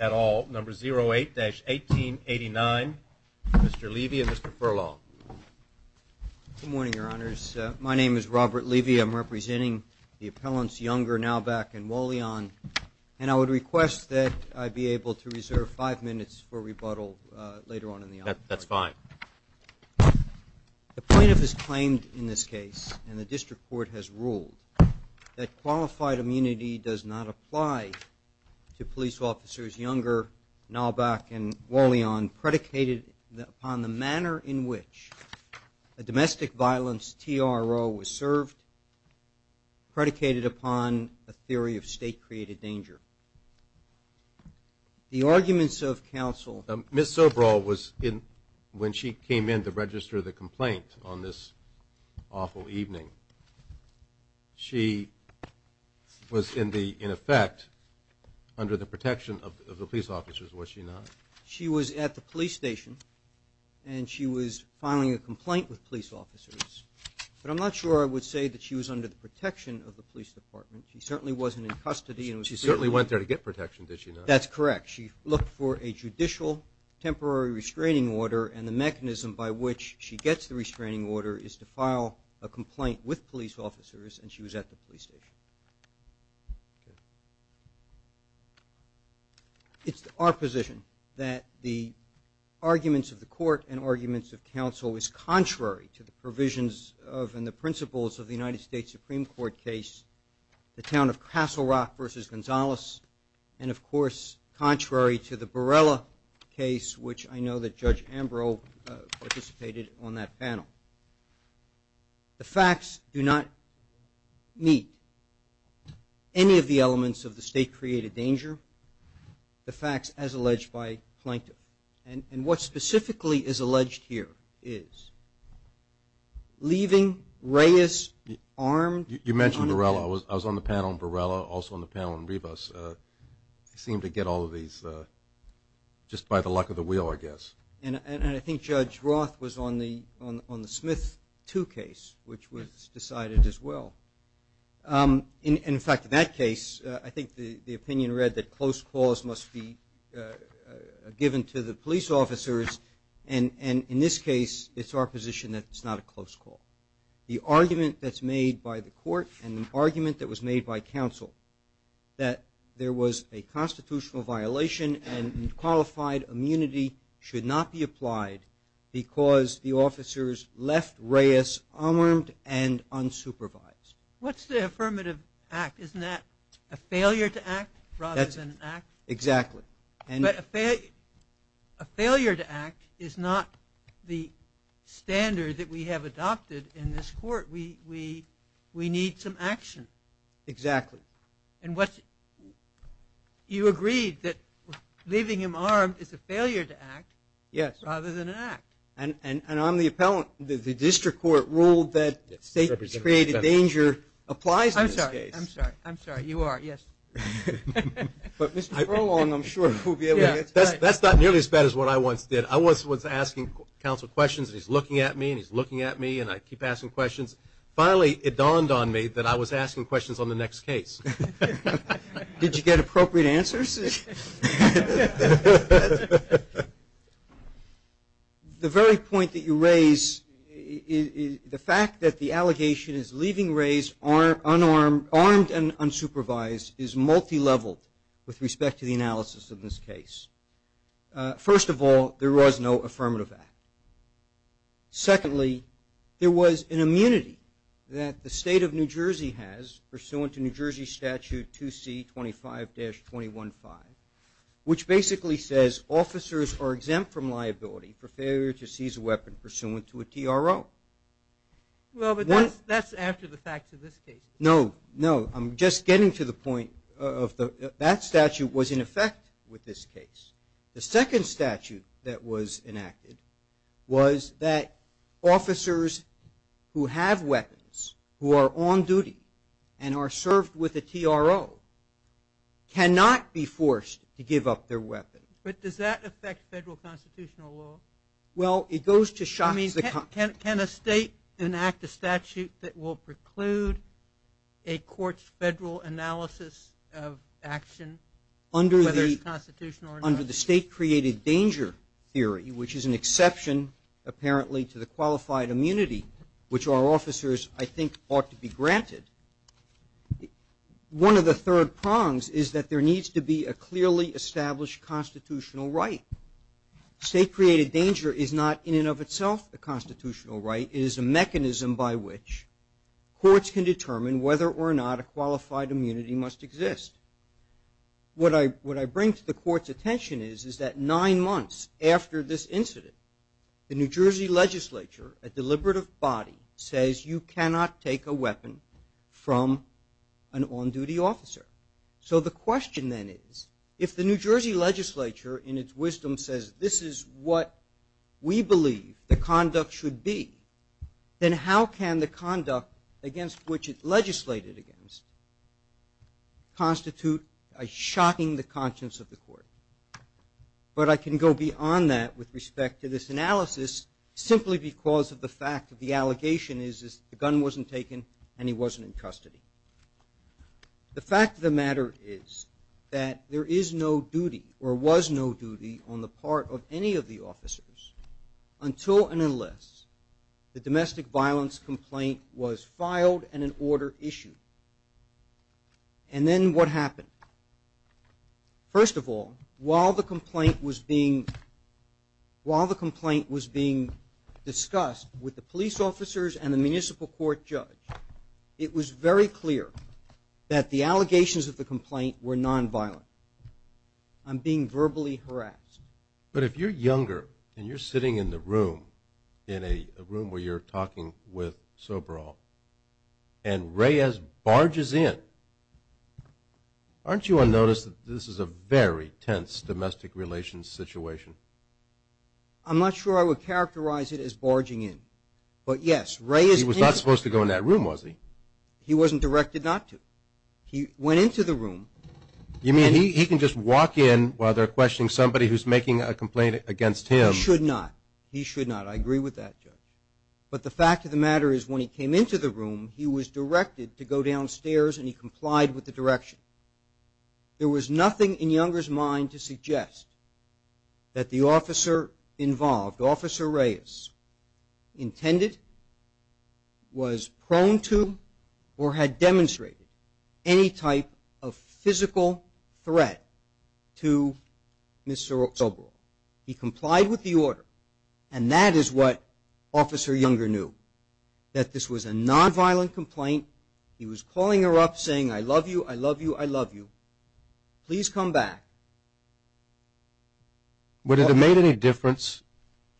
at all, number 08-1889. Mr. Levy and Mr. Furlong. Good morning, Your Honors. My name is Robert Levy. I'm representing the appellants Younger, Nauvak, and Wollion, and I would request that I be able to reserve five minutes for rebuttal Thank you, Mr. Chairman. The plaintiff has claimed in this case, and the district court has ruled, that qualified immunity does not apply to police officers Younger, Nauvak, and Wollion predicated upon the manner in which a domestic violence TRO was served, predicated upon a theory of state-created danger. The arguments of counsel... Ms. Soberal was in, when she came in to register the complaint on this awful evening, she was in the, in effect, under the protection of the police officers, was she not? She was at the police station, and she was filing a complaint with police officers, but I'm not sure I would say that she was under the protection of the police department. She certainly wasn't in custody. She certainly went there to get protection, did she not? That's correct. She looked for a judicial temporary restraining order, and the mechanism by which she gets the restraining order is to file a complaint with police officers, and she was at the police station. Okay. It's our position that the arguments of the court and arguments of counsel is contrary to the provisions of, and the principles of the United States Supreme Court case, the town of Castle Rock versus Gonzales, and of course, contrary to the Borrella case, which I know that Judge Ambrose participated on that panel. The facts do not meet any of the elements of the state-created danger. The facts, as alleged by Plaintiff, and what specifically is alleged here is, leaving Reyes armed. You mentioned Borrella. I was on the panel on Borrella, also on the panel on Rivas. They seem to get all of these just by the luck of the wheel, I guess. And I think Judge Roth was on the Smith 2 case, which was decided as well. In fact, in that case, I think the opinion read that close calls must be given to the police officers, and in this case, it's our position that it's not a close call. The argument that's made by the court and the argument that was made by counsel that there was a constitutional violation and unqualified immunity should not be applied because the officers left Reyes unarmed and unsupervised. What's the affirmative act? Isn't that a failure to act rather than an act? Exactly. But a failure to act is not the standard that we have adopted in this court. We need some action. You agreed that leaving him armed is a failure to act rather than an act. And I'm the appellant. The district court ruled that state-created danger applies in this case. I'm sorry. I'm sorry. You are. Yes. That's not nearly as bad as what I once did. I once was asking counsel questions, and he's looking at me, and he's looking at me, and I keep asking questions. Finally, it dawned on me that I was asking questions on the next case. Did you get appropriate answers? The very point that you raise, the fact that the allegation is leaving Reyes armed and unsupervised is multileveled with respect to the analysis of this case. First of all, there was no affirmative act. Secondly, there was an immunity that the state of New Jersey has, pursuant to New Jersey Statute 2C25-21-5, which basically says officers are exempt from liability for failure to seize a weapon pursuant to a TRO. Well, but that's after the facts of this case. No. No. I'm just getting to the point of that statute was in effect with this case. The second statute that was enacted was that officers who have weapons, who are on duty and are served with a TRO, cannot be forced to give up their weapon. But does that affect federal constitutional law? Well, it goes to shock. Can a state enact a statute that will preclude a court's federal analysis of action, whether it's constitutional or not? Under the state-created danger theory, which is an exception, apparently, to the qualified immunity, which our officers, I think, ought to be granted, one of the third prongs is that there needs to be a clearly established constitutional right. State-created danger is not, in and of itself, a constitutional right. It is a mechanism by which courts can determine whether or not a qualified immunity must exist. What I bring to the court's attention is that nine months after this incident, the New Jersey legislature, a deliberative body, says, you cannot take a weapon from an on-duty officer. So the question then is, if the New Jersey legislature, in its wisdom, says, this is what we believe the conduct should be, then how can the conduct against which it legislated against constitute a shocking to the conscience of the court? But I can go beyond that with respect to this analysis, simply because of the fact that the allegation is that the gun wasn't taken and he wasn't in custody. The fact of the matter is that there is no duty, or was no duty, on the part of any of the officers until and unless the domestic violence complaint was filed and an order issued. First of all, while the complaint was being discussed with the police officers and the municipal court judge, it was very clear that the allegations of the complaint were nonviolent. I'm being verbally harassed. But if you're younger and you're sitting in the room, in a room where you're talking with Sobral, and Reyes barges in, aren't you unnoticed that this is a very tense domestic relations situation? I'm not sure I would characterize it as barging in. He was not supposed to go in that room, was he? He wasn't directed not to. You mean he can just walk in while they're questioning somebody who's making a complaint against him? He should not. I agree with that, Judge. But the fact of the matter is when he came into the room, he was directed to go downstairs and he complied with the direction. There was nothing in Younger's mind to suggest that the officer involved, intended, was prone to, or had demonstrated any type of physical threat to Ms. Sobral. He complied with the order, and that is what Officer Younger knew, that this was a nonviolent complaint. He was calling her up saying, I love you, I love you, I love you. Please come back. Would it have made any difference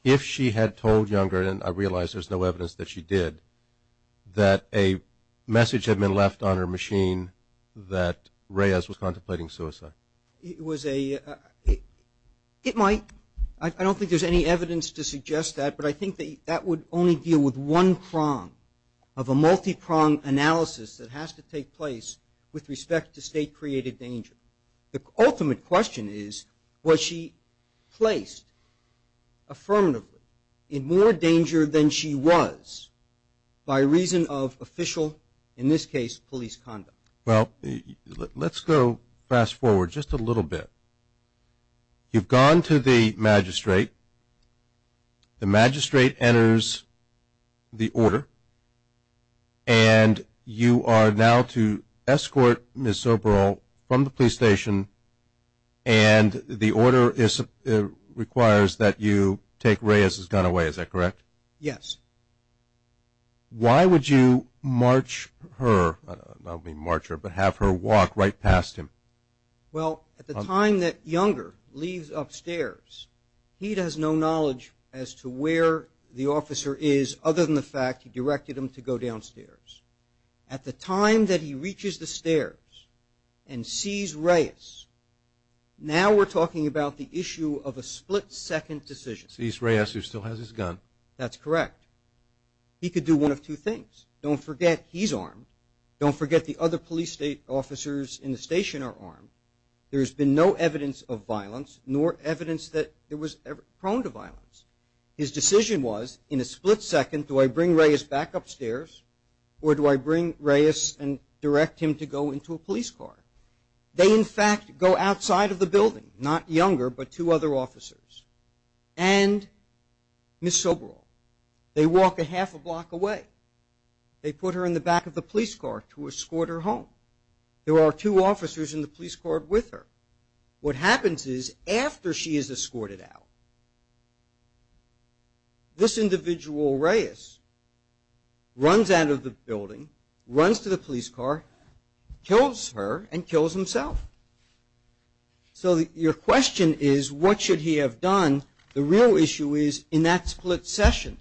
if she had told Younger, and I realize there's no evidence that she did, that a message had been left on her machine that Reyes was contemplating suicide? It might. I don't think there's any evidence to suggest that, but I think that would only deal with one prong of a multi-prong analysis that has to take place with respect to state-created danger. The ultimate question is, was she placed affirmatively in more danger than she was by reason of official, in this case, police conduct? Well, let's go fast forward just a little bit. You've gone to the magistrate. The magistrate enters the order, and you are now to escort Ms. Sobral from the police station, and the order requires that you take Reyes' gun away, is that correct? Yes. Why would you march her, not only march her, but have her walk right past him? Well, at the time that Younger leaves upstairs, he has no knowledge as to where the officer is, other than the fact he directed him to go downstairs. At the time that he reaches the stairs and sees Reyes, now we're talking about the issue of a split-second decision. Sees Reyes, who still has his gun. That's correct. He could do one of two things. Don't forget he's armed. Don't forget the other police officers in the station are armed. There's been no evidence of violence, nor evidence that there was ever prone to violence. His decision was, in a split second, do I bring Reyes back upstairs, or do I bring Reyes and direct him to go into a police car? They, in fact, go outside of the building, not Younger, but two other officers, and Ms. Soberall. They walk a half a block away. They put her in the back of the police car to escort her home. There are two officers in the police car with her. What happens is, after she is escorted out, this individual, Reyes, runs out of the building, runs to the police car, kills her, and kills himself. So your question is, what should he have done? The real issue is, in that split second,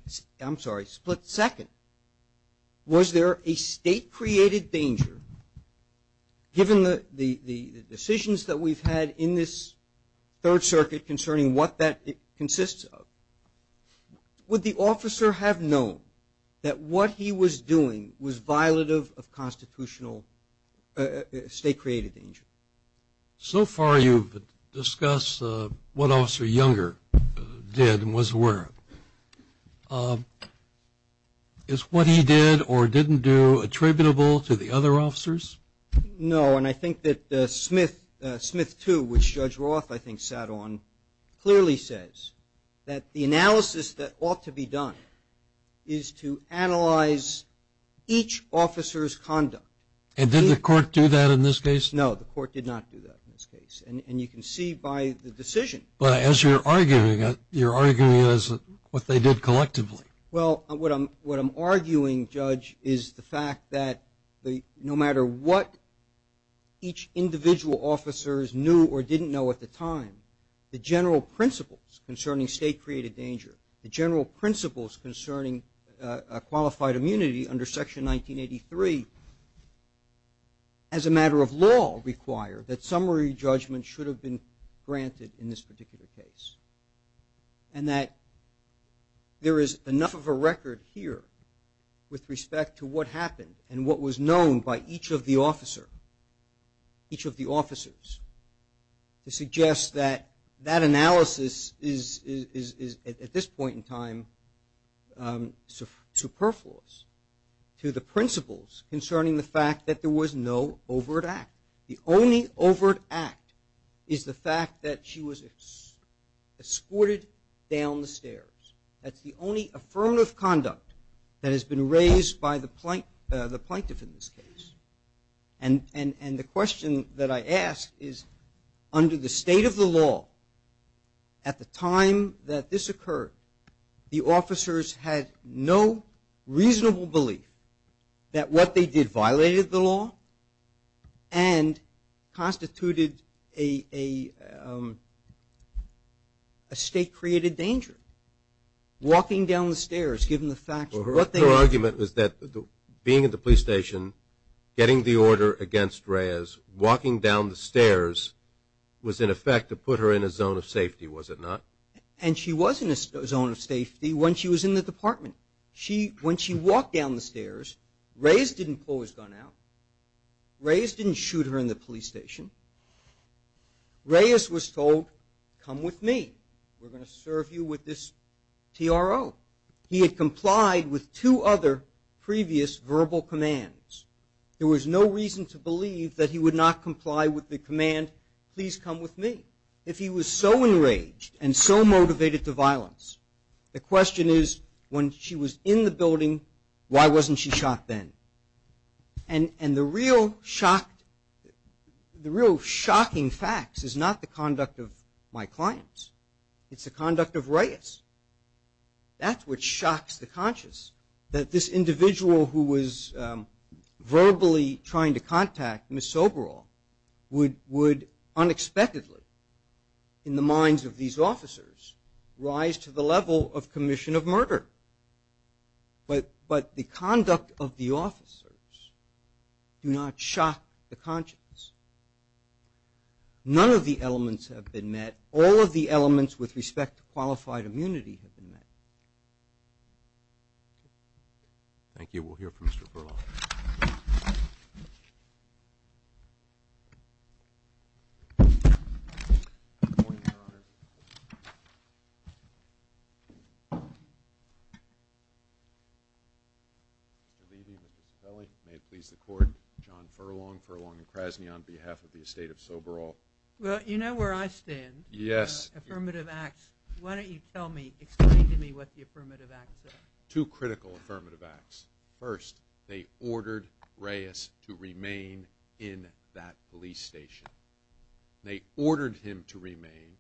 was there a state-created danger, given the decisions that we've had in this Third Circuit concerning what that consists of? Would the officer have known that what he was doing was violative of constitutional state-created danger? So far you've discussed what Officer Younger did and was aware of. Is what he did or didn't do attributable to the other officers? No, and I think that Smith 2, which Judge Roth, I think, sat on, clearly says that the analysis that ought to be done is to analyze each officer's conduct. And did the court do that in this case? No, the court did not do that in this case, and you can see by the decision. But as you're arguing it, you're arguing it as what they did collectively. Well, what I'm arguing, Judge, is the fact that no matter what each individual officer knew or didn't know at the time, the general principles concerning state-created danger, the general principles concerning qualified immunity under Section 1983, as a matter of law, require that summary judgment should have been granted in this particular case. And that there is enough of a record here with respect to what happened and what was known by each of the officers to suggest that that analysis is, at this point in time, superfluous to the principles concerning the fact that there was no overt act. The only overt act is the fact that she was escorted down the stairs. That's the only affirmative conduct that has been raised by the plaintiff in this case. And the question that I ask is, under the state of the law, at the time that this occurred, the officers had no reasonable belief that what they did violated the law and constituted a state-created danger. Walking down the stairs, given the fact that what they were doing. Her argument was that being at the police station, getting the order against Reyes, walking down the stairs was in effect to put her in a zone of safety, was it not? And she was in a zone of safety when she was in the department. When she walked down the stairs, Reyes didn't pull his gun out. Reyes didn't shoot her in the police station. Reyes was told, come with me. We're going to serve you with this TRO. He had complied with two other previous verbal commands. There was no reason to believe that he would not comply with the command, please come with me. If he was so enraged and so motivated to violence, the question is when she was in the building, why wasn't she shot then? And the real shocking facts is not the conduct of my clients. It's the conduct of Reyes. That's what shocks the conscious, that this individual who was verbally trying to contact Ms. Soberall would unexpectedly, in the minds of these officers, rise to the level of commission of murder. But the conduct of the officers do not shock the conscious. None of the elements have been met. All of the elements with respect to qualified immunity have been met. Thank you. We'll hear from Mr. Furlong. Good morning, Your Honor. Mr. Levy, Mr. Zepelli, may it please the Court, John Furlong, Furlong and Krasny on behalf of the estate of Soberall. Well, you know where I stand. Yes. Affirmative acts. Why don't you tell me, explain to me what the affirmative acts are. Two critical affirmative acts. First, they ordered Reyes to remain in that police station. They ordered him to remain,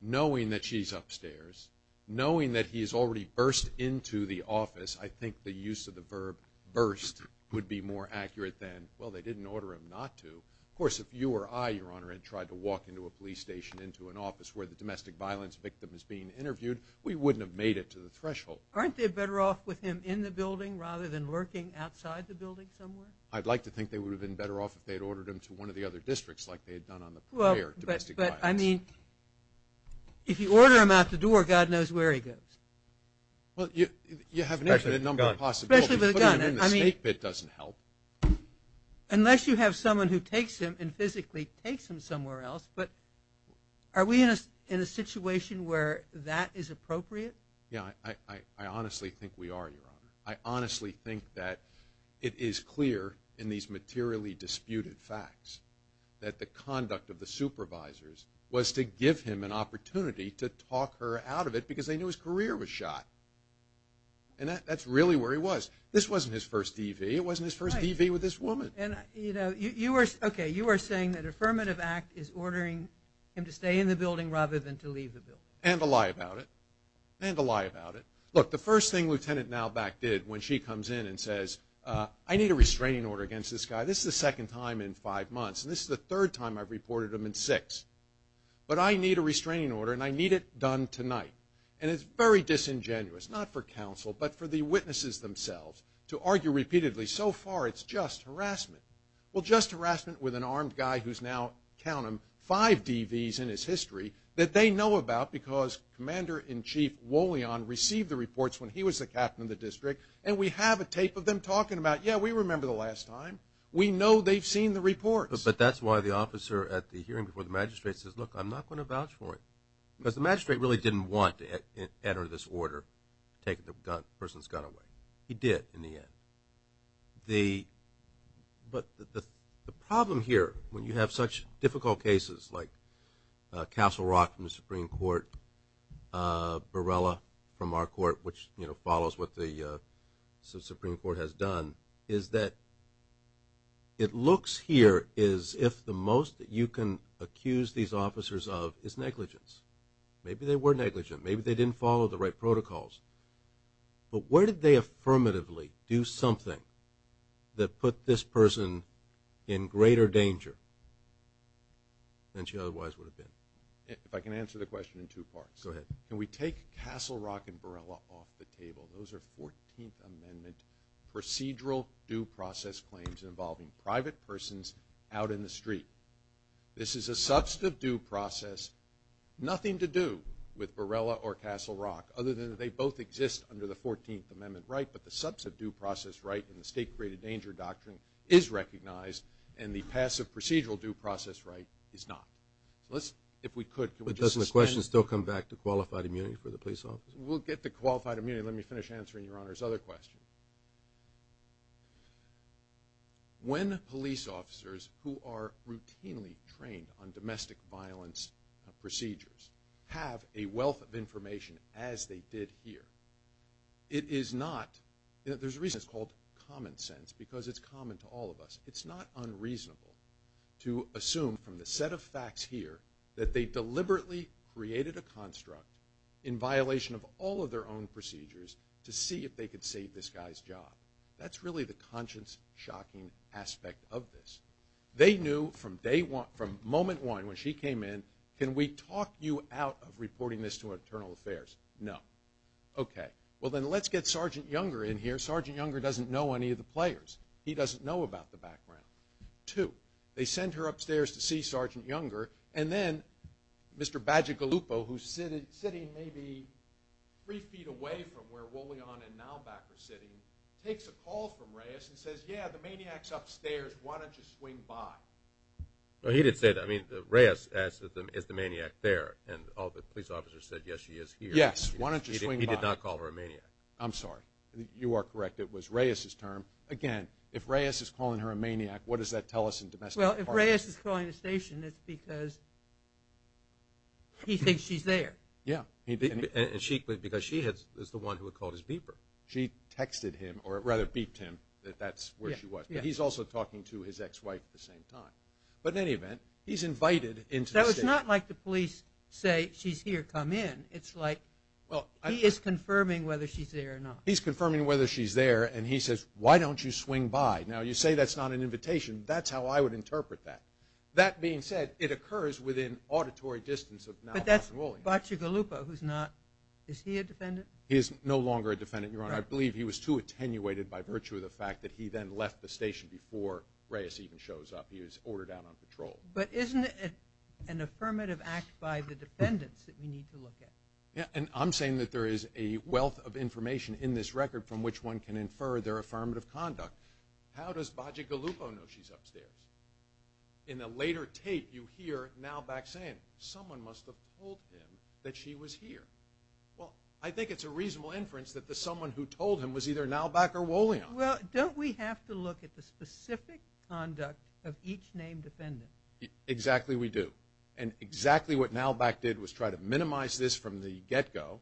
knowing that she's upstairs, knowing that he has already burst into the office. I think the use of the verb burst would be more accurate than, well, they didn't order him not to. Of course, if you or I, Your Honor, had tried to walk into a police station, into an office where the domestic violence victim is being interviewed, we wouldn't have made it to the threshold. Aren't they better off with him in the building rather than lurking outside the building somewhere? I'd like to think they would have been better off if they had ordered him to one of the other districts, like they had done on the prior domestic violence. But, I mean, if you order him out the door, God knows where he goes. Well, you have an infinite number of possibilities. Especially with a gun. Putting him in the snake pit doesn't help. Unless you have someone who takes him and physically takes him somewhere else. But are we in a situation where that is appropriate? Yeah, I honestly think we are, Your Honor. I honestly think that it is clear in these materially disputed facts that the conduct of the supervisors was to give him an opportunity to talk her out of it because they knew his career was shot. And that's really where he was. This wasn't his first DV. It wasn't his first DV with this woman. Okay, you are saying that Affirmative Act is ordering him to stay in the building rather than to leave the building. And to lie about it. And to lie about it. Look, the first thing Lieutenant Nalback did when she comes in and says, I need a restraining order against this guy. This is the second time in five months, and this is the third time I've reported him in six. But I need a restraining order, and I need it done tonight. And it's very disingenuous, not for counsel, but for the witnesses themselves to argue repeatedly, so far it's just harassment. Well, just harassment with an armed guy who's now, count him, five DVs in his history that they know about because Commander-in-Chief Wollion received the reports when he was the captain of the district, and we have a tape of them talking about, yeah, we remember the last time. We know they've seen the reports. But that's why the officer at the hearing before the magistrate says, look, I'm not going to vouch for it. Because the magistrate really didn't want to enter this order taking the person's gun away. He did in the end. But the problem here when you have such difficult cases like Castle Rock from the Supreme Court, Borrella from our court, which follows what the Supreme Court has done, is that it looks here as if the most that you can accuse these officers of is negligence. Maybe they were negligent. Maybe they didn't follow the right protocols. But where did they affirmatively do something that put this person in greater danger than she otherwise would have been? If I can answer the question in two parts. Go ahead. Can we take Castle Rock and Borrella off the table? Those are 14th Amendment procedural due process claims involving private persons out in the street. This is a substantive due process, nothing to do with Borrella or Castle Rock other than that they both exist under the 14th Amendment right, but the substantive due process right in the State Created Danger Doctrine is recognized and the passive procedural due process right is not. If we could, can we just suspend? But doesn't the question still come back to qualified immunity for the police officer? We'll get to qualified immunity. Let me finish answering Your Honor's other question. When police officers who are routinely trained on domestic violence procedures have a wealth of information as they did here, it is not, there's a reason it's called common sense because it's common to all of us. It's not unreasonable to assume from the set of facts here that they deliberately created a construct in violation of all of their own procedures to see if they could save this guy's job. That's really the conscience-shocking aspect of this. They knew from moment one when she came in, can we talk you out of reporting this to Internal Affairs? No. Okay. Well, then let's get Sergeant Younger in here. Sergeant Younger doesn't know any of the players. He doesn't know about the background. Two, they send her upstairs to see Sergeant Younger and then Mr. Bagigalupo, who's sitting maybe three feet away from where Rolion and Nalback are sitting, takes a call from Reyes and says, yeah, the maniac's upstairs, why don't you swing by? He did say that. I mean, Reyes asked, is the maniac there? And all the police officers said, yes, she is here. Yes. Why don't you swing by? He did not call her a maniac. I'm sorry. You are correct. It was Reyes's term. Again, if Reyes is calling her a maniac, what does that tell us in the domestic department? Well, if Reyes is calling the station, it's because he thinks she's there. Yeah. And because she is the one who had called his beeper. She texted him or rather beeped him that that's where she was. But he's also talking to his ex-wife at the same time. But in any event, he's invited into the station. So it's not like the police say, she's here, come in. It's like he is confirming whether she's there or not. He's confirming whether she's there, and he says, why don't you swing by? Now, you say that's not an invitation. That's how I would interpret that. That being said, it occurs within auditory distance of Nalback and Rolion. But that's Bagigalupo who's not – is he a defendant? He is no longer a defendant, Your Honor. I believe he was too attenuated by virtue of the fact that he then left the station before Reyes even shows up. He was ordered out on patrol. But isn't it an affirmative act by the defendants that we need to look at? Yeah, and I'm saying that there is a wealth of information in this record from which one can infer their affirmative conduct. How does Bagigalupo know she's upstairs? In a later tape, you hear Nalback saying, someone must have told him that she was here. Well, I think it's a reasonable inference that the someone who told him was either Nalback or Rolion. Well, don't we have to look at the specific conduct of each named defendant? Exactly, we do. And exactly what Nalback did was try to minimize this from the get-go.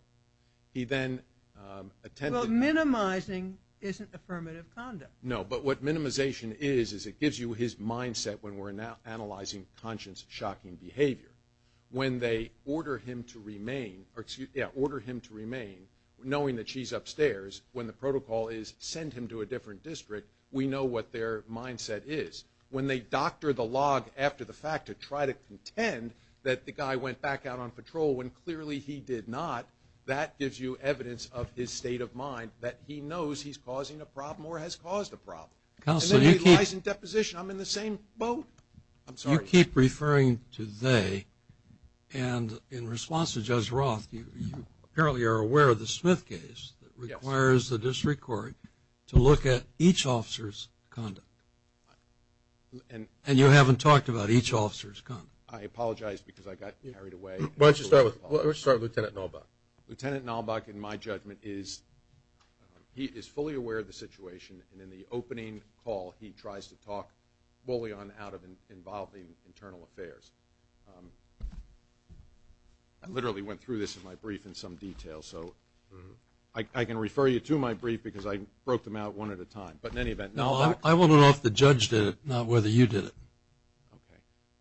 He then attempted – Well, minimizing isn't affirmative conduct. No, but what minimization is is it gives you his mindset when we're analyzing conscience-shocking behavior. When they order him to remain, knowing that she's upstairs, when the protocol is send him to a different district, we know what their mindset is. When they doctor the log after the fact to try to contend that the guy went back out on patrol when clearly he did not, that gives you evidence of his state of mind that he knows he's causing a problem or has caused a problem. Counsel, you keep – And then he lies in deposition. I'm in the same boat. I'm sorry. You keep referring to they, and in response to Judge Roth, you apparently are aware of the Smith case that requires the district court to look at each officer's conduct. And you haven't talked about each officer's conduct. I apologize because I got carried away. Why don't you start with Lieutenant Nalback. Lieutenant Nalback, in my judgment, is fully aware of the situation, and in the opening call he tries to talk Bullion out of involving internal affairs. I literally went through this in my brief in some detail, so I can refer you to my brief because I broke them out one at a time. But in any event, Nalback – No, I want to know if the judge did it, not whether you did it.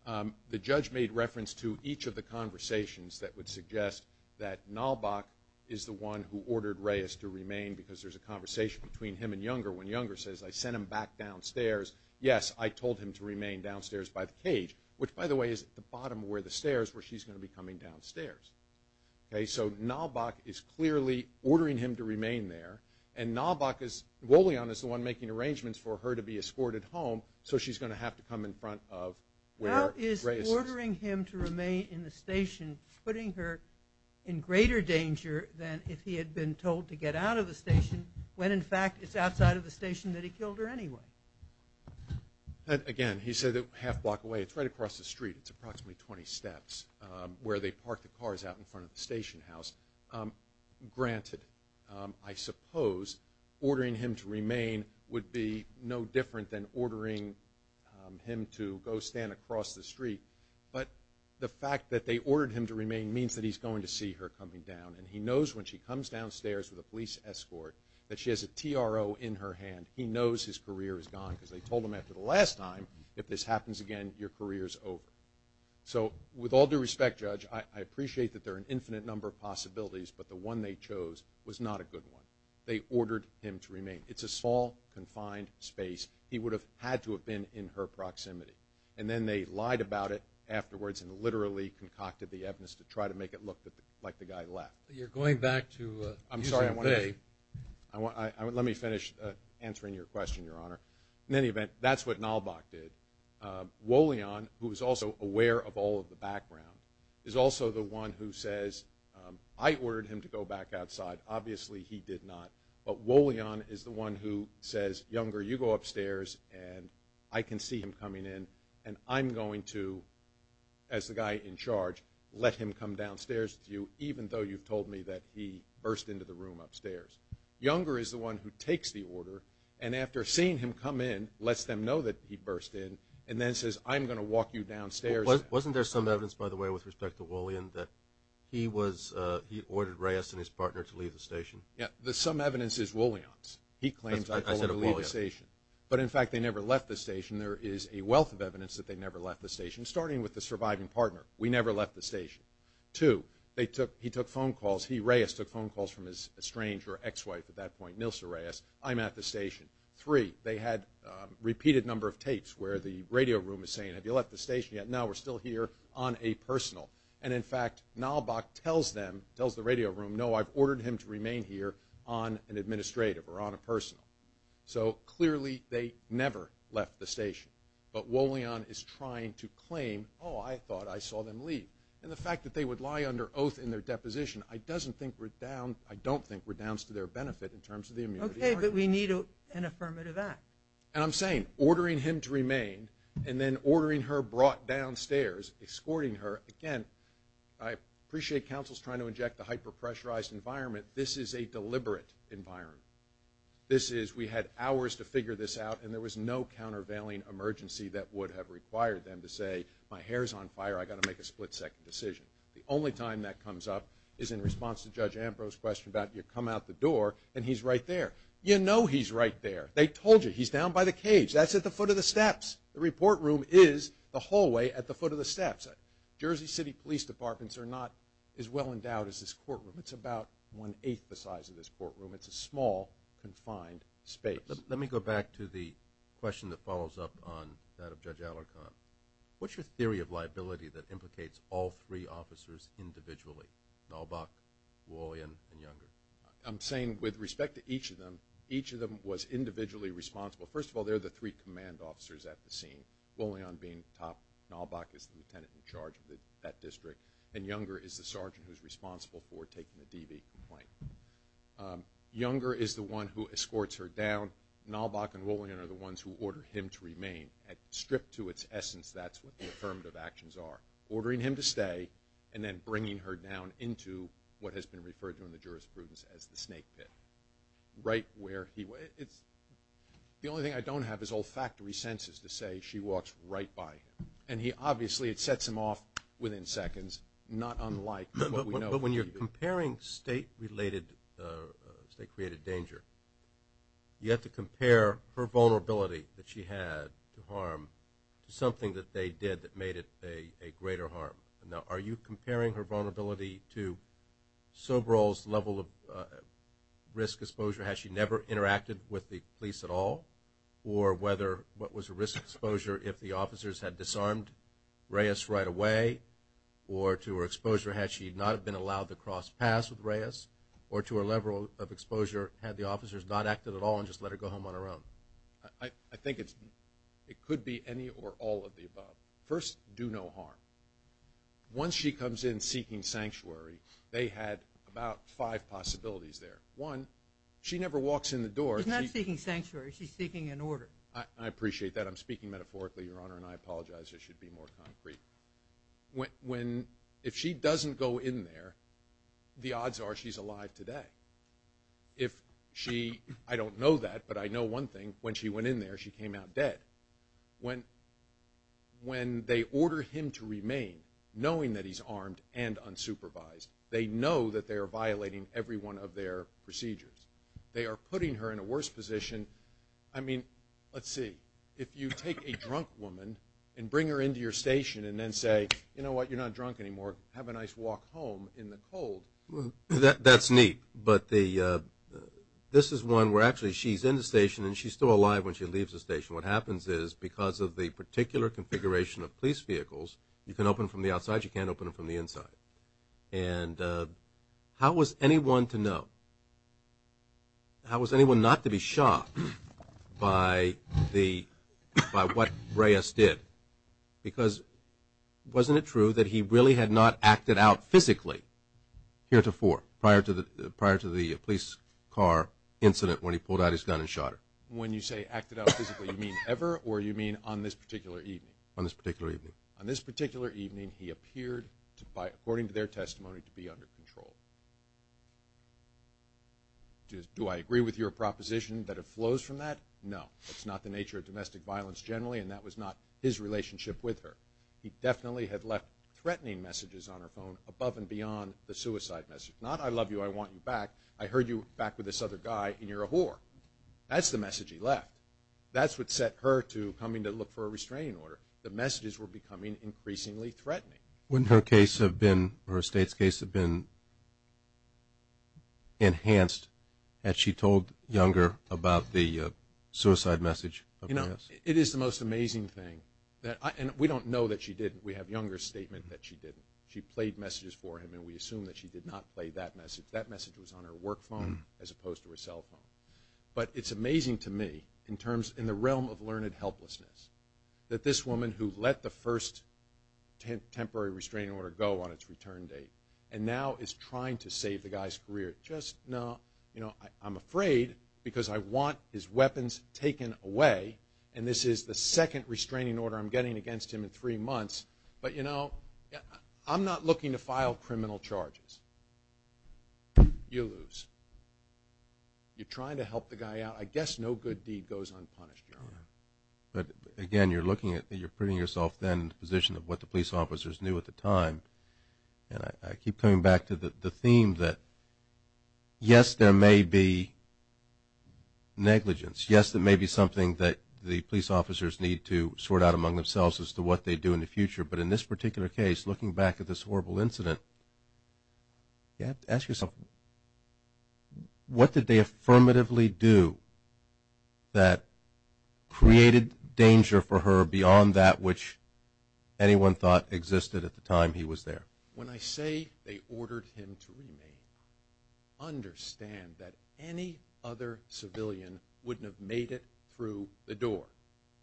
Okay. The judge made reference to each of the conversations that would suggest that Nalback is the one who ordered Reyes to remain because there's a conversation between him and Younger when Younger says, I sent him back downstairs. Yes, I told him to remain downstairs by the cage, which, by the way, is at the bottom of where the stairs where she's going to be coming downstairs. Okay, so Nalback is clearly ordering him to remain there, and Nalback is – Bullion is the one making arrangements for her to be escorted home, so she's going to have to come in front of where Reyes is. How is ordering him to remain in the station putting her in greater danger than if he had been told to get out of the station when, in fact, it's outside of the station that he killed her anyway? Again, he said that half a block away. It's right across the street. It's approximately 20 steps where they park the cars out in front of the station house. Granted, I suppose ordering him to remain would be no different than ordering him to go stand across the street, but the fact that they ordered him to remain means that he's going to see her coming down, and he knows when she comes downstairs with a police escort that she has a TRO in her hand. He knows his career is gone because they told him after the last time, if this happens again, your career is over. So with all due respect, Judge, I appreciate that there are an infinite number of possibilities, but the one they chose was not a good one. They ordered him to remain. It's a small, confined space. He would have had to have been in her proximity, and then they lied about it afterwards and literally concocted the evidence to try to make it look like the guy left. You're going back to user Bay. Let me finish answering your question, Your Honor. In any event, that's what Nalbach did. Wolian, who is also aware of all of the background, is also the one who says, I ordered him to go back outside. Obviously, he did not. But Wolian is the one who says, Younger, you go upstairs, and I can see him coming in, and I'm going to, as the guy in charge, let him come downstairs with you, even though you've told me that he burst into the room upstairs. Younger is the one who takes the order, and after seeing him come in, lets them know that he burst in, and then says, I'm going to walk you downstairs. Wasn't there some evidence, by the way, with respect to Wolian, that he ordered Reyes and his partner to leave the station? Some evidence is Wolian's. He claims I told him to leave the station. But, in fact, they never left the station. There is a wealth of evidence that they never left the station, starting with the surviving partner. We never left the station. Two, he took phone calls. He, Reyes, took phone calls from his estranged or ex-wife at that point, Nilsa Reyes. I'm at the station. Three, they had a repeated number of tapes where the radio room is saying, Have you left the station yet? No, we're still here on a personal. And, in fact, Nalbach tells them, tells the radio room, No, I've ordered him to remain here on an administrative or on a personal. So, clearly, they never left the station. But Wolian is trying to claim, Oh, I thought I saw them leave. And the fact that they would lie under oath in their deposition, I don't think redounds to their benefit in terms of the immunity argument. Okay, but we need an affirmative act. And I'm saying ordering him to remain and then ordering her brought downstairs, escorting her. Again, I appreciate counsel's trying to inject the hyper-pressurized environment. This is a deliberate environment. We had hours to figure this out, and there was no countervailing emergency that would have required them to say, My hair's on fire. I've got to make a split-second decision. The only time that comes up is in response to Judge Ambrose's question about you come out the door and he's right there. You know he's right there. They told you he's down by the cage. That's at the foot of the steps. The report room is the hallway at the foot of the steps. Jersey City Police Departments are not as well endowed as this courtroom. It's about one-eighth the size of this courtroom. It's a small, confined space. Let me go back to the question that follows up on that of Judge Alarcon. What's your theory of liability that implicates all three officers individually, Nalbach, Wollion, and Younger? I'm saying with respect to each of them, each of them was individually responsible. First of all, they're the three command officers at the scene, Wollion being top. Nalbach is the lieutenant in charge of that district, and Younger is the sergeant who's responsible for taking the DV complaint. Younger is the one who escorts her down. Nalbach and Wollion are the ones who order him to remain and, stripped to its essence, that's what the affirmative actions are, ordering him to stay and then bringing her down into what has been referred to in the jurisprudence as the snake pit, right where he was. The only thing I don't have is olfactory senses to say she walks right by him. And he obviously sets him off within seconds, not unlike what we know. But when you're comparing state-related, state-created danger, you have to compare her vulnerability that she had to harm to something that they did that made it a greater harm. Now, are you comparing her vulnerability to Sobrel's level of risk exposure, had she never interacted with the police at all, or whether what was her risk exposure if the officers had disarmed Reyes right away, or to her exposure had she not been allowed to cross paths with Reyes, or to her level of exposure had the officers not acted at all and just let her go home on her own? I think it could be any or all of the above. First, do no harm. Once she comes in seeking sanctuary, they had about five possibilities there. One, she never walks in the door. She's not seeking sanctuary. She's seeking an order. I appreciate that. I'm speaking metaphorically, Your Honor, and I apologize. It should be more concrete. If she doesn't go in there, the odds are she's alive today. I don't know that, but I know one thing. When she went in there, she came out dead. When they order him to remain, knowing that he's armed and unsupervised, they know that they are violating every one of their procedures. They are putting her in a worse position. I mean, let's see. If you take a drunk woman and bring her into your station and then say, you know what, you're not drunk anymore, have a nice walk home in the cold. That's neat, but this is one where actually she's in the station and she's still alive when she leaves the station. What happens is because of the particular configuration of police vehicles, you can open them from the outside, you can't open them from the inside. And how was anyone to know? How was anyone not to be shocked by what Reyes did? Because wasn't it true that he really had not acted out physically here to four prior to the police car incident when he pulled out his gun and shot her? When you say acted out physically, you mean ever, or you mean on this particular evening? On this particular evening. On this particular evening, he appeared, according to their testimony, to be under control. Do I agree with your proposition that it flows from that? No. It's not the nature of domestic violence generally, and that was not his relationship with her. He definitely had left threatening messages on her phone above and beyond the suicide message. Not, I love you, I want you back. I heard you back with this other guy and you're a whore. That's the message he left. That's what set her to coming to look for a restraining order. The messages were becoming increasingly threatening. Wouldn't her case have been, or her state's case, have been enhanced had she told Younger about the suicide message of Reyes? You know, it is the most amazing thing. And we don't know that she didn't. We have Younger's statement that she didn't. She played messages for him, and we assume that she did not play that message. That message was on her work phone as opposed to her cell phone. But it's amazing to me, in the realm of learned helplessness, that this woman who let the first temporary restraining order go on its return date and now is trying to save the guy's career just now. You know, I'm afraid because I want his weapons taken away, and this is the second restraining order I'm getting against him in three months. But, you know, I'm not looking to file criminal charges. You lose. You're trying to help the guy out. I guess no good deed goes unpunished, Your Honor. But, again, you're putting yourself then in the position of what the police officers knew at the time. And I keep coming back to the theme that, yes, there may be negligence. Yes, there may be something that the police officers need to sort out among themselves as to what they do in the future. But in this particular case, looking back at this horrible incident, you have to ask yourself what did they affirmatively do that created danger for her beyond that which anyone thought existed at the time he was there? When I say they ordered him to remain, understand that any other civilian wouldn't have made it through the door,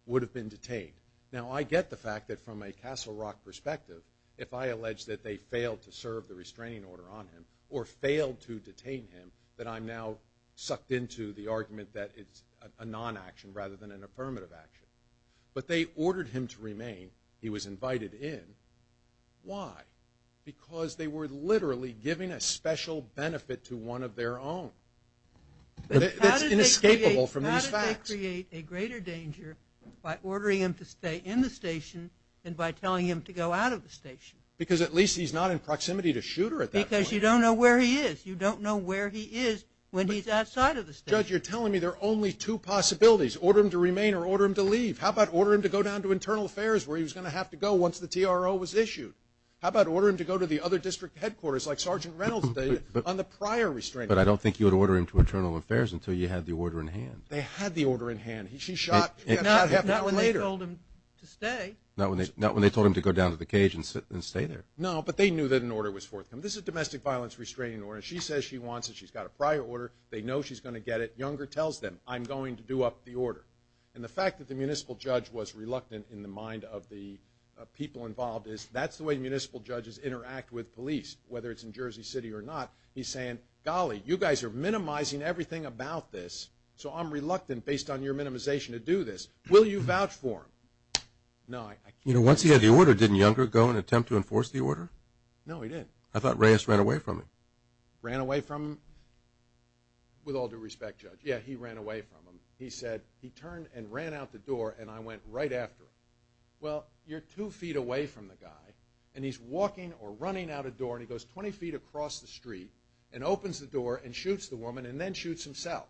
would have been detained. Now, I get the fact that from a Castle Rock perspective, if I allege that they failed to serve the restraining order on him or failed to detain him, that I'm now sucked into the argument that it's a non-action rather than an affirmative action. But they ordered him to remain. He was invited in. Why? Because they were literally giving a special benefit to one of their own. That's inescapable from these facts. Why create a greater danger by ordering him to stay in the station than by telling him to go out of the station? Because at least he's not in proximity to shooter at that point. Because you don't know where he is. You don't know where he is when he's outside of the station. Judge, you're telling me there are only two possibilities, order him to remain or order him to leave. How about order him to go down to Internal Affairs where he was going to have to go once the TRO was issued? How about order him to go to the other district headquarters like Sergeant Reynolds did on the prior restraining order? But I don't think you would order him to Internal Affairs until you had the order in hand. They had the order in hand. She shot half an hour later. Not when they told him to stay. Not when they told him to go down to the cage and stay there. No, but they knew that an order was forthcoming. This is a domestic violence restraining order. She says she wants it. She's got a prior order. They know she's going to get it. Younger tells them, I'm going to do up the order. And the fact that the municipal judge was reluctant in the mind of the people involved is that's the way municipal judges interact with police, whether it's in Jersey City or not. He's saying, golly, you guys are minimizing everything about this, so I'm reluctant based on your minimization to do this. Will you vouch for him? No, I can't. You know, once he had the order, didn't Younger go and attempt to enforce the order? No, he didn't. I thought Reyes ran away from him. Ran away from him? With all due respect, Judge, yeah, he ran away from him. He said he turned and ran out the door, and I went right after him. Well, you're two feet away from the guy, and he's walking or running out a door, and he goes 20 feet across the street and opens the door and shoots the woman and then shoots himself.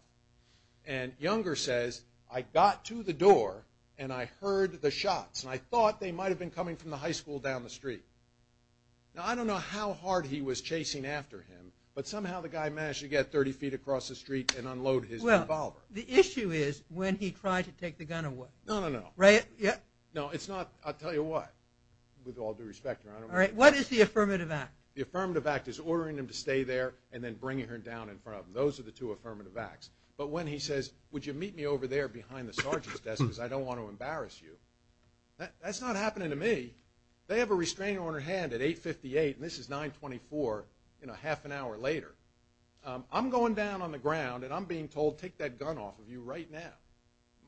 And Younger says, I got to the door and I heard the shots, and I thought they might have been coming from the high school down the street. Now, I don't know how hard he was chasing after him, but somehow the guy managed to get 30 feet across the street and unload his revolver. Well, the issue is when he tried to take the gun away. No, no, no. No, it's not. I'll tell you what, with all due respect, Your Honor. All right, what is the affirmative act? The affirmative act is ordering him to stay there and then bringing her down in front of him. Those are the two affirmative acts. But when he says, would you meet me over there behind the sergeant's desk because I don't want to embarrass you, that's not happening to me. They have a restrainer on their hand at 858, and this is 924 half an hour later. I'm going down on the ground, and I'm being told, take that gun off of you right now.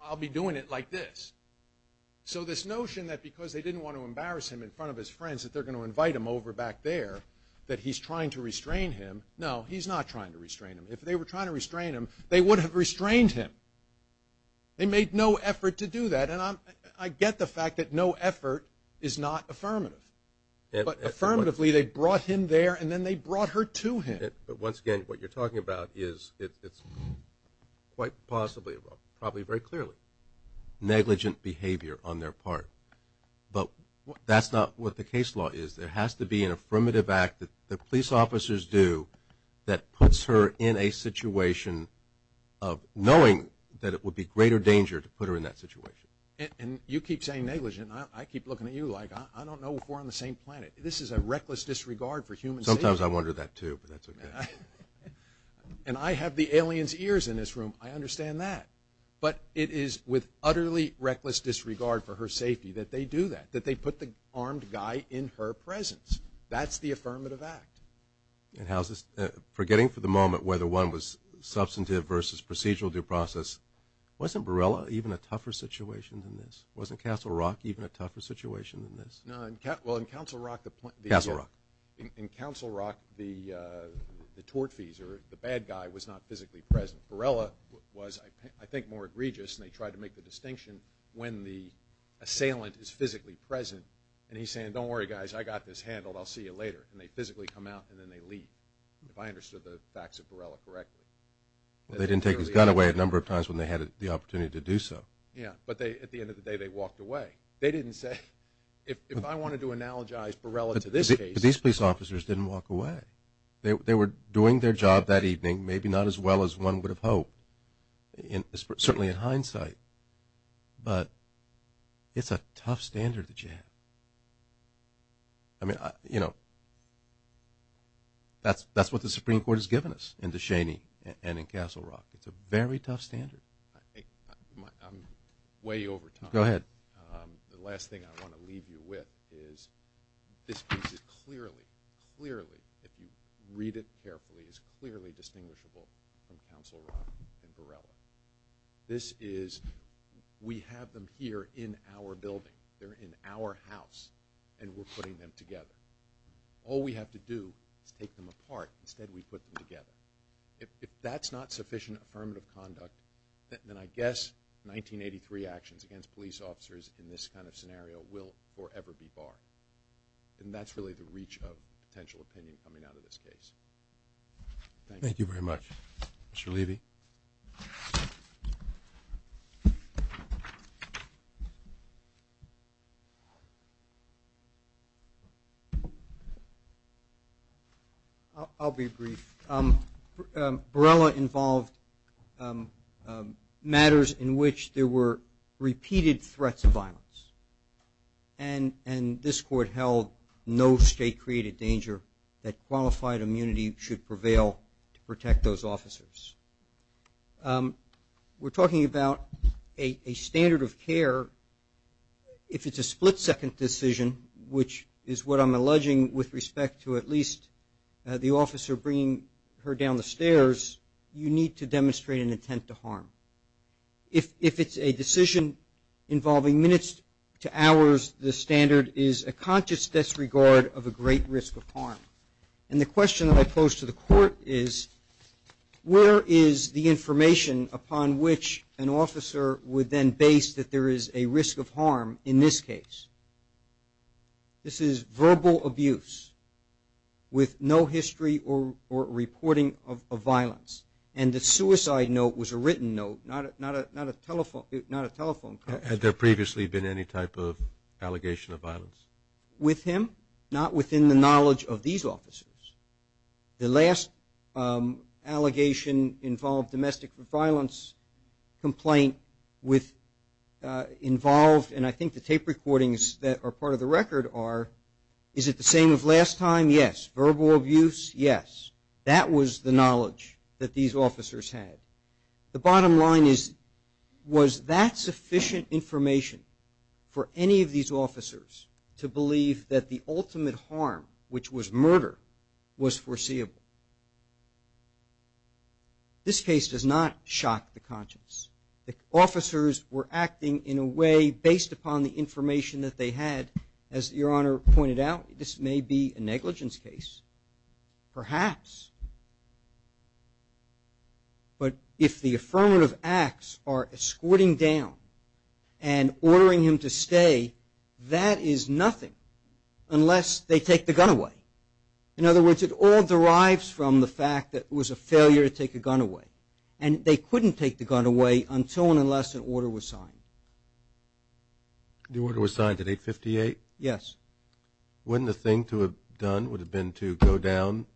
I'll be doing it like this. So this notion that because they didn't want to embarrass him in front of his friends, that they're going to invite him over back there, that he's trying to restrain him, no, he's not trying to restrain him. If they were trying to restrain him, they would have restrained him. They made no effort to do that, and I get the fact that no effort is not affirmative. But affirmatively, they brought him there, and then they brought her to him. But once again, what you're talking about is it's quite possibly, probably very clearly negligent behavior on their part. But that's not what the case law is. There has to be an affirmative act that police officers do that puts her in a situation of knowing that it would be greater danger to put her in that situation. And you keep saying negligent. I keep looking at you like I don't know if we're on the same planet. This is a reckless disregard for human safety. Sometimes I wonder that too, but that's okay. And I have the alien's ears in this room. I understand that. But it is with utterly reckless disregard for her safety that they do that, that they put the armed guy in her presence. That's the affirmative act. And how's this? Forgetting for the moment whether one was substantive versus procedural due process, wasn't Borrella even a tougher situation than this? Wasn't Castle Rock even a tougher situation than this? No. Well, in Castle Rock the tort fees or the bad guy was not physically present. Borrella was, I think, more egregious, and they tried to make the distinction when the assailant is physically present. And he's saying, don't worry, guys, I got this handled. I'll see you later. And they physically come out and then they leave, if I understood the facts of Borrella correctly. They didn't take his gun away a number of times when they had the opportunity to do so. Yeah, but at the end of the day they walked away. They didn't say, if I wanted to analogize Borrella to this case. But these police officers didn't walk away. They were doing their job that evening, maybe not as well as one would have hoped, certainly in hindsight. But it's a tough standard that you have. I mean, you know, that's what the Supreme Court has given us in Descheny and in Castle Rock. It's a very tough standard. I'm way over time. Go ahead. The last thing I want to leave you with is this case is clearly, clearly, if you read it carefully, is clearly distinguishable from Castle Rock and Borrella. This is we have them here in our building. They're in our house, and we're putting them together. All we have to do is take them apart. Instead, we put them together. If that's not sufficient affirmative conduct, then I guess 1983 actions against police officers in this kind of scenario will forever be barred. And that's really the reach of potential opinion coming out of this case. Thank you. Thank you very much. Mr. Levy. I'll be brief. Borrella involved matters in which there were repeated threats of violence. And this court held no state-created danger that qualified immunity should prevail to protect those officers. We're talking about a standard of care. If it's a split-second decision, which is what I'm alleging with respect to at least the officer bringing her down the stairs, you need to demonstrate an intent to harm. If it's a decision involving minutes to hours, the standard is a conscious disregard of a great risk of harm. And the question that I pose to the court is, where is the information upon which an officer would then base that there is a risk of harm in this case? This is verbal abuse with no history or reporting of violence. And the suicide note was a written note, not a telephone call. Had there previously been any type of allegation of violence? With him? Not within the knowledge of these officers. The last allegation involved domestic violence complaint with involved, and I think the tape recordings that are part of the record are, is it the same as last time? Yes. Verbal abuse? Yes. That was the knowledge that these officers had. The bottom line is, was that sufficient information for any of these officers to believe that the ultimate harm, which was murder, was foreseeable? This case does not shock the conscience. The officers were acting in a way based upon the information that they had. As Your Honor pointed out, this may be a negligence case. Perhaps. But if the affirmative acts are escorting down and ordering him to stay, that is nothing unless they take the gun away. In other words, it all derives from the fact that it was a failure to take a gun away. And they couldn't take the gun away until and unless an order was signed. The order was signed at 858? Yes. Wouldn't the thing to have done would have been to go down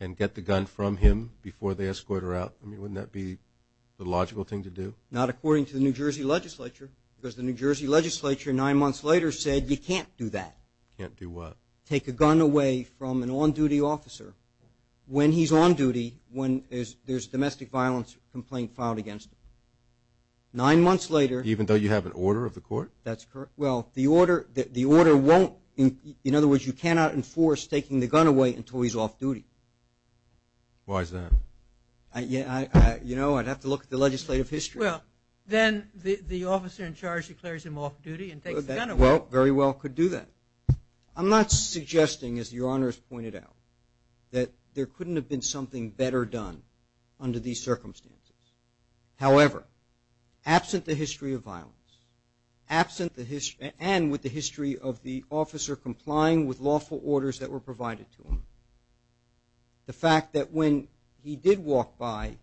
and get the gun from him before they escort her out? I mean, wouldn't that be the logical thing to do? Not according to the New Jersey legislature, because the New Jersey legislature nine months later said you can't do that. Can't do what? Take a gun away from an on-duty officer when he's on duty, when there's a domestic violence complaint filed against him. Nine months later. Even though you have an order of the court? That's correct. Well, the order won't, in other words, you cannot enforce taking the gun away until he's off duty. Why is that? You know, I'd have to look at the legislative history. Well, then the officer in charge declares him off duty and takes the gun away. Well, very well could do that. I'm not suggesting, as Your Honors pointed out, that there couldn't have been something better done under these circumstances. However, absent the history of violence and with the history of the officer complying with lawful orders that were provided to him, the fact that when he did walk by,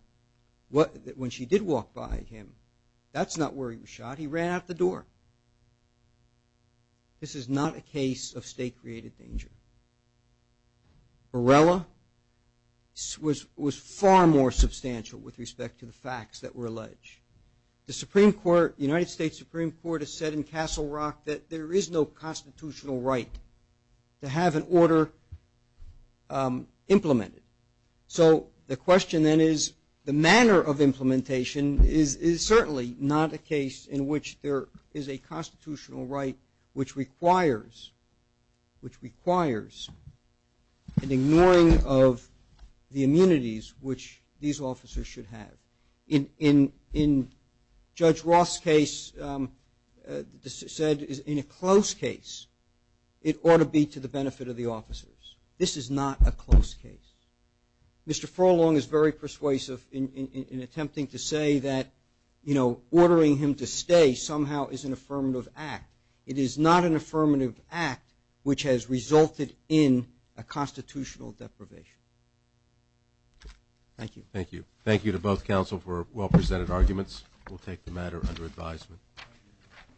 when she did walk by him, that's not where he was shot. He ran out the door. This is not a case of state-created danger. Borrella was far more substantial with respect to the facts that were alleged. The Supreme Court, the United States Supreme Court has said in Castle Rock that there is no constitutional right to have an order implemented. So the question then is the manner of implementation is certainly not a case in which there is a constitutional right which requires an ignoring of the immunities which these officers should have. In Judge Roth's case, said in a close case it ought to be to the benefit of the officers. This is not a close case. Mr. Forlong is very persuasive in attempting to say that, you know, this day somehow is an affirmative act. It is not an affirmative act which has resulted in a constitutional deprivation. Thank you. Thank you. Thank you to both counsel for well-presented arguments. We'll take the matter under advisement.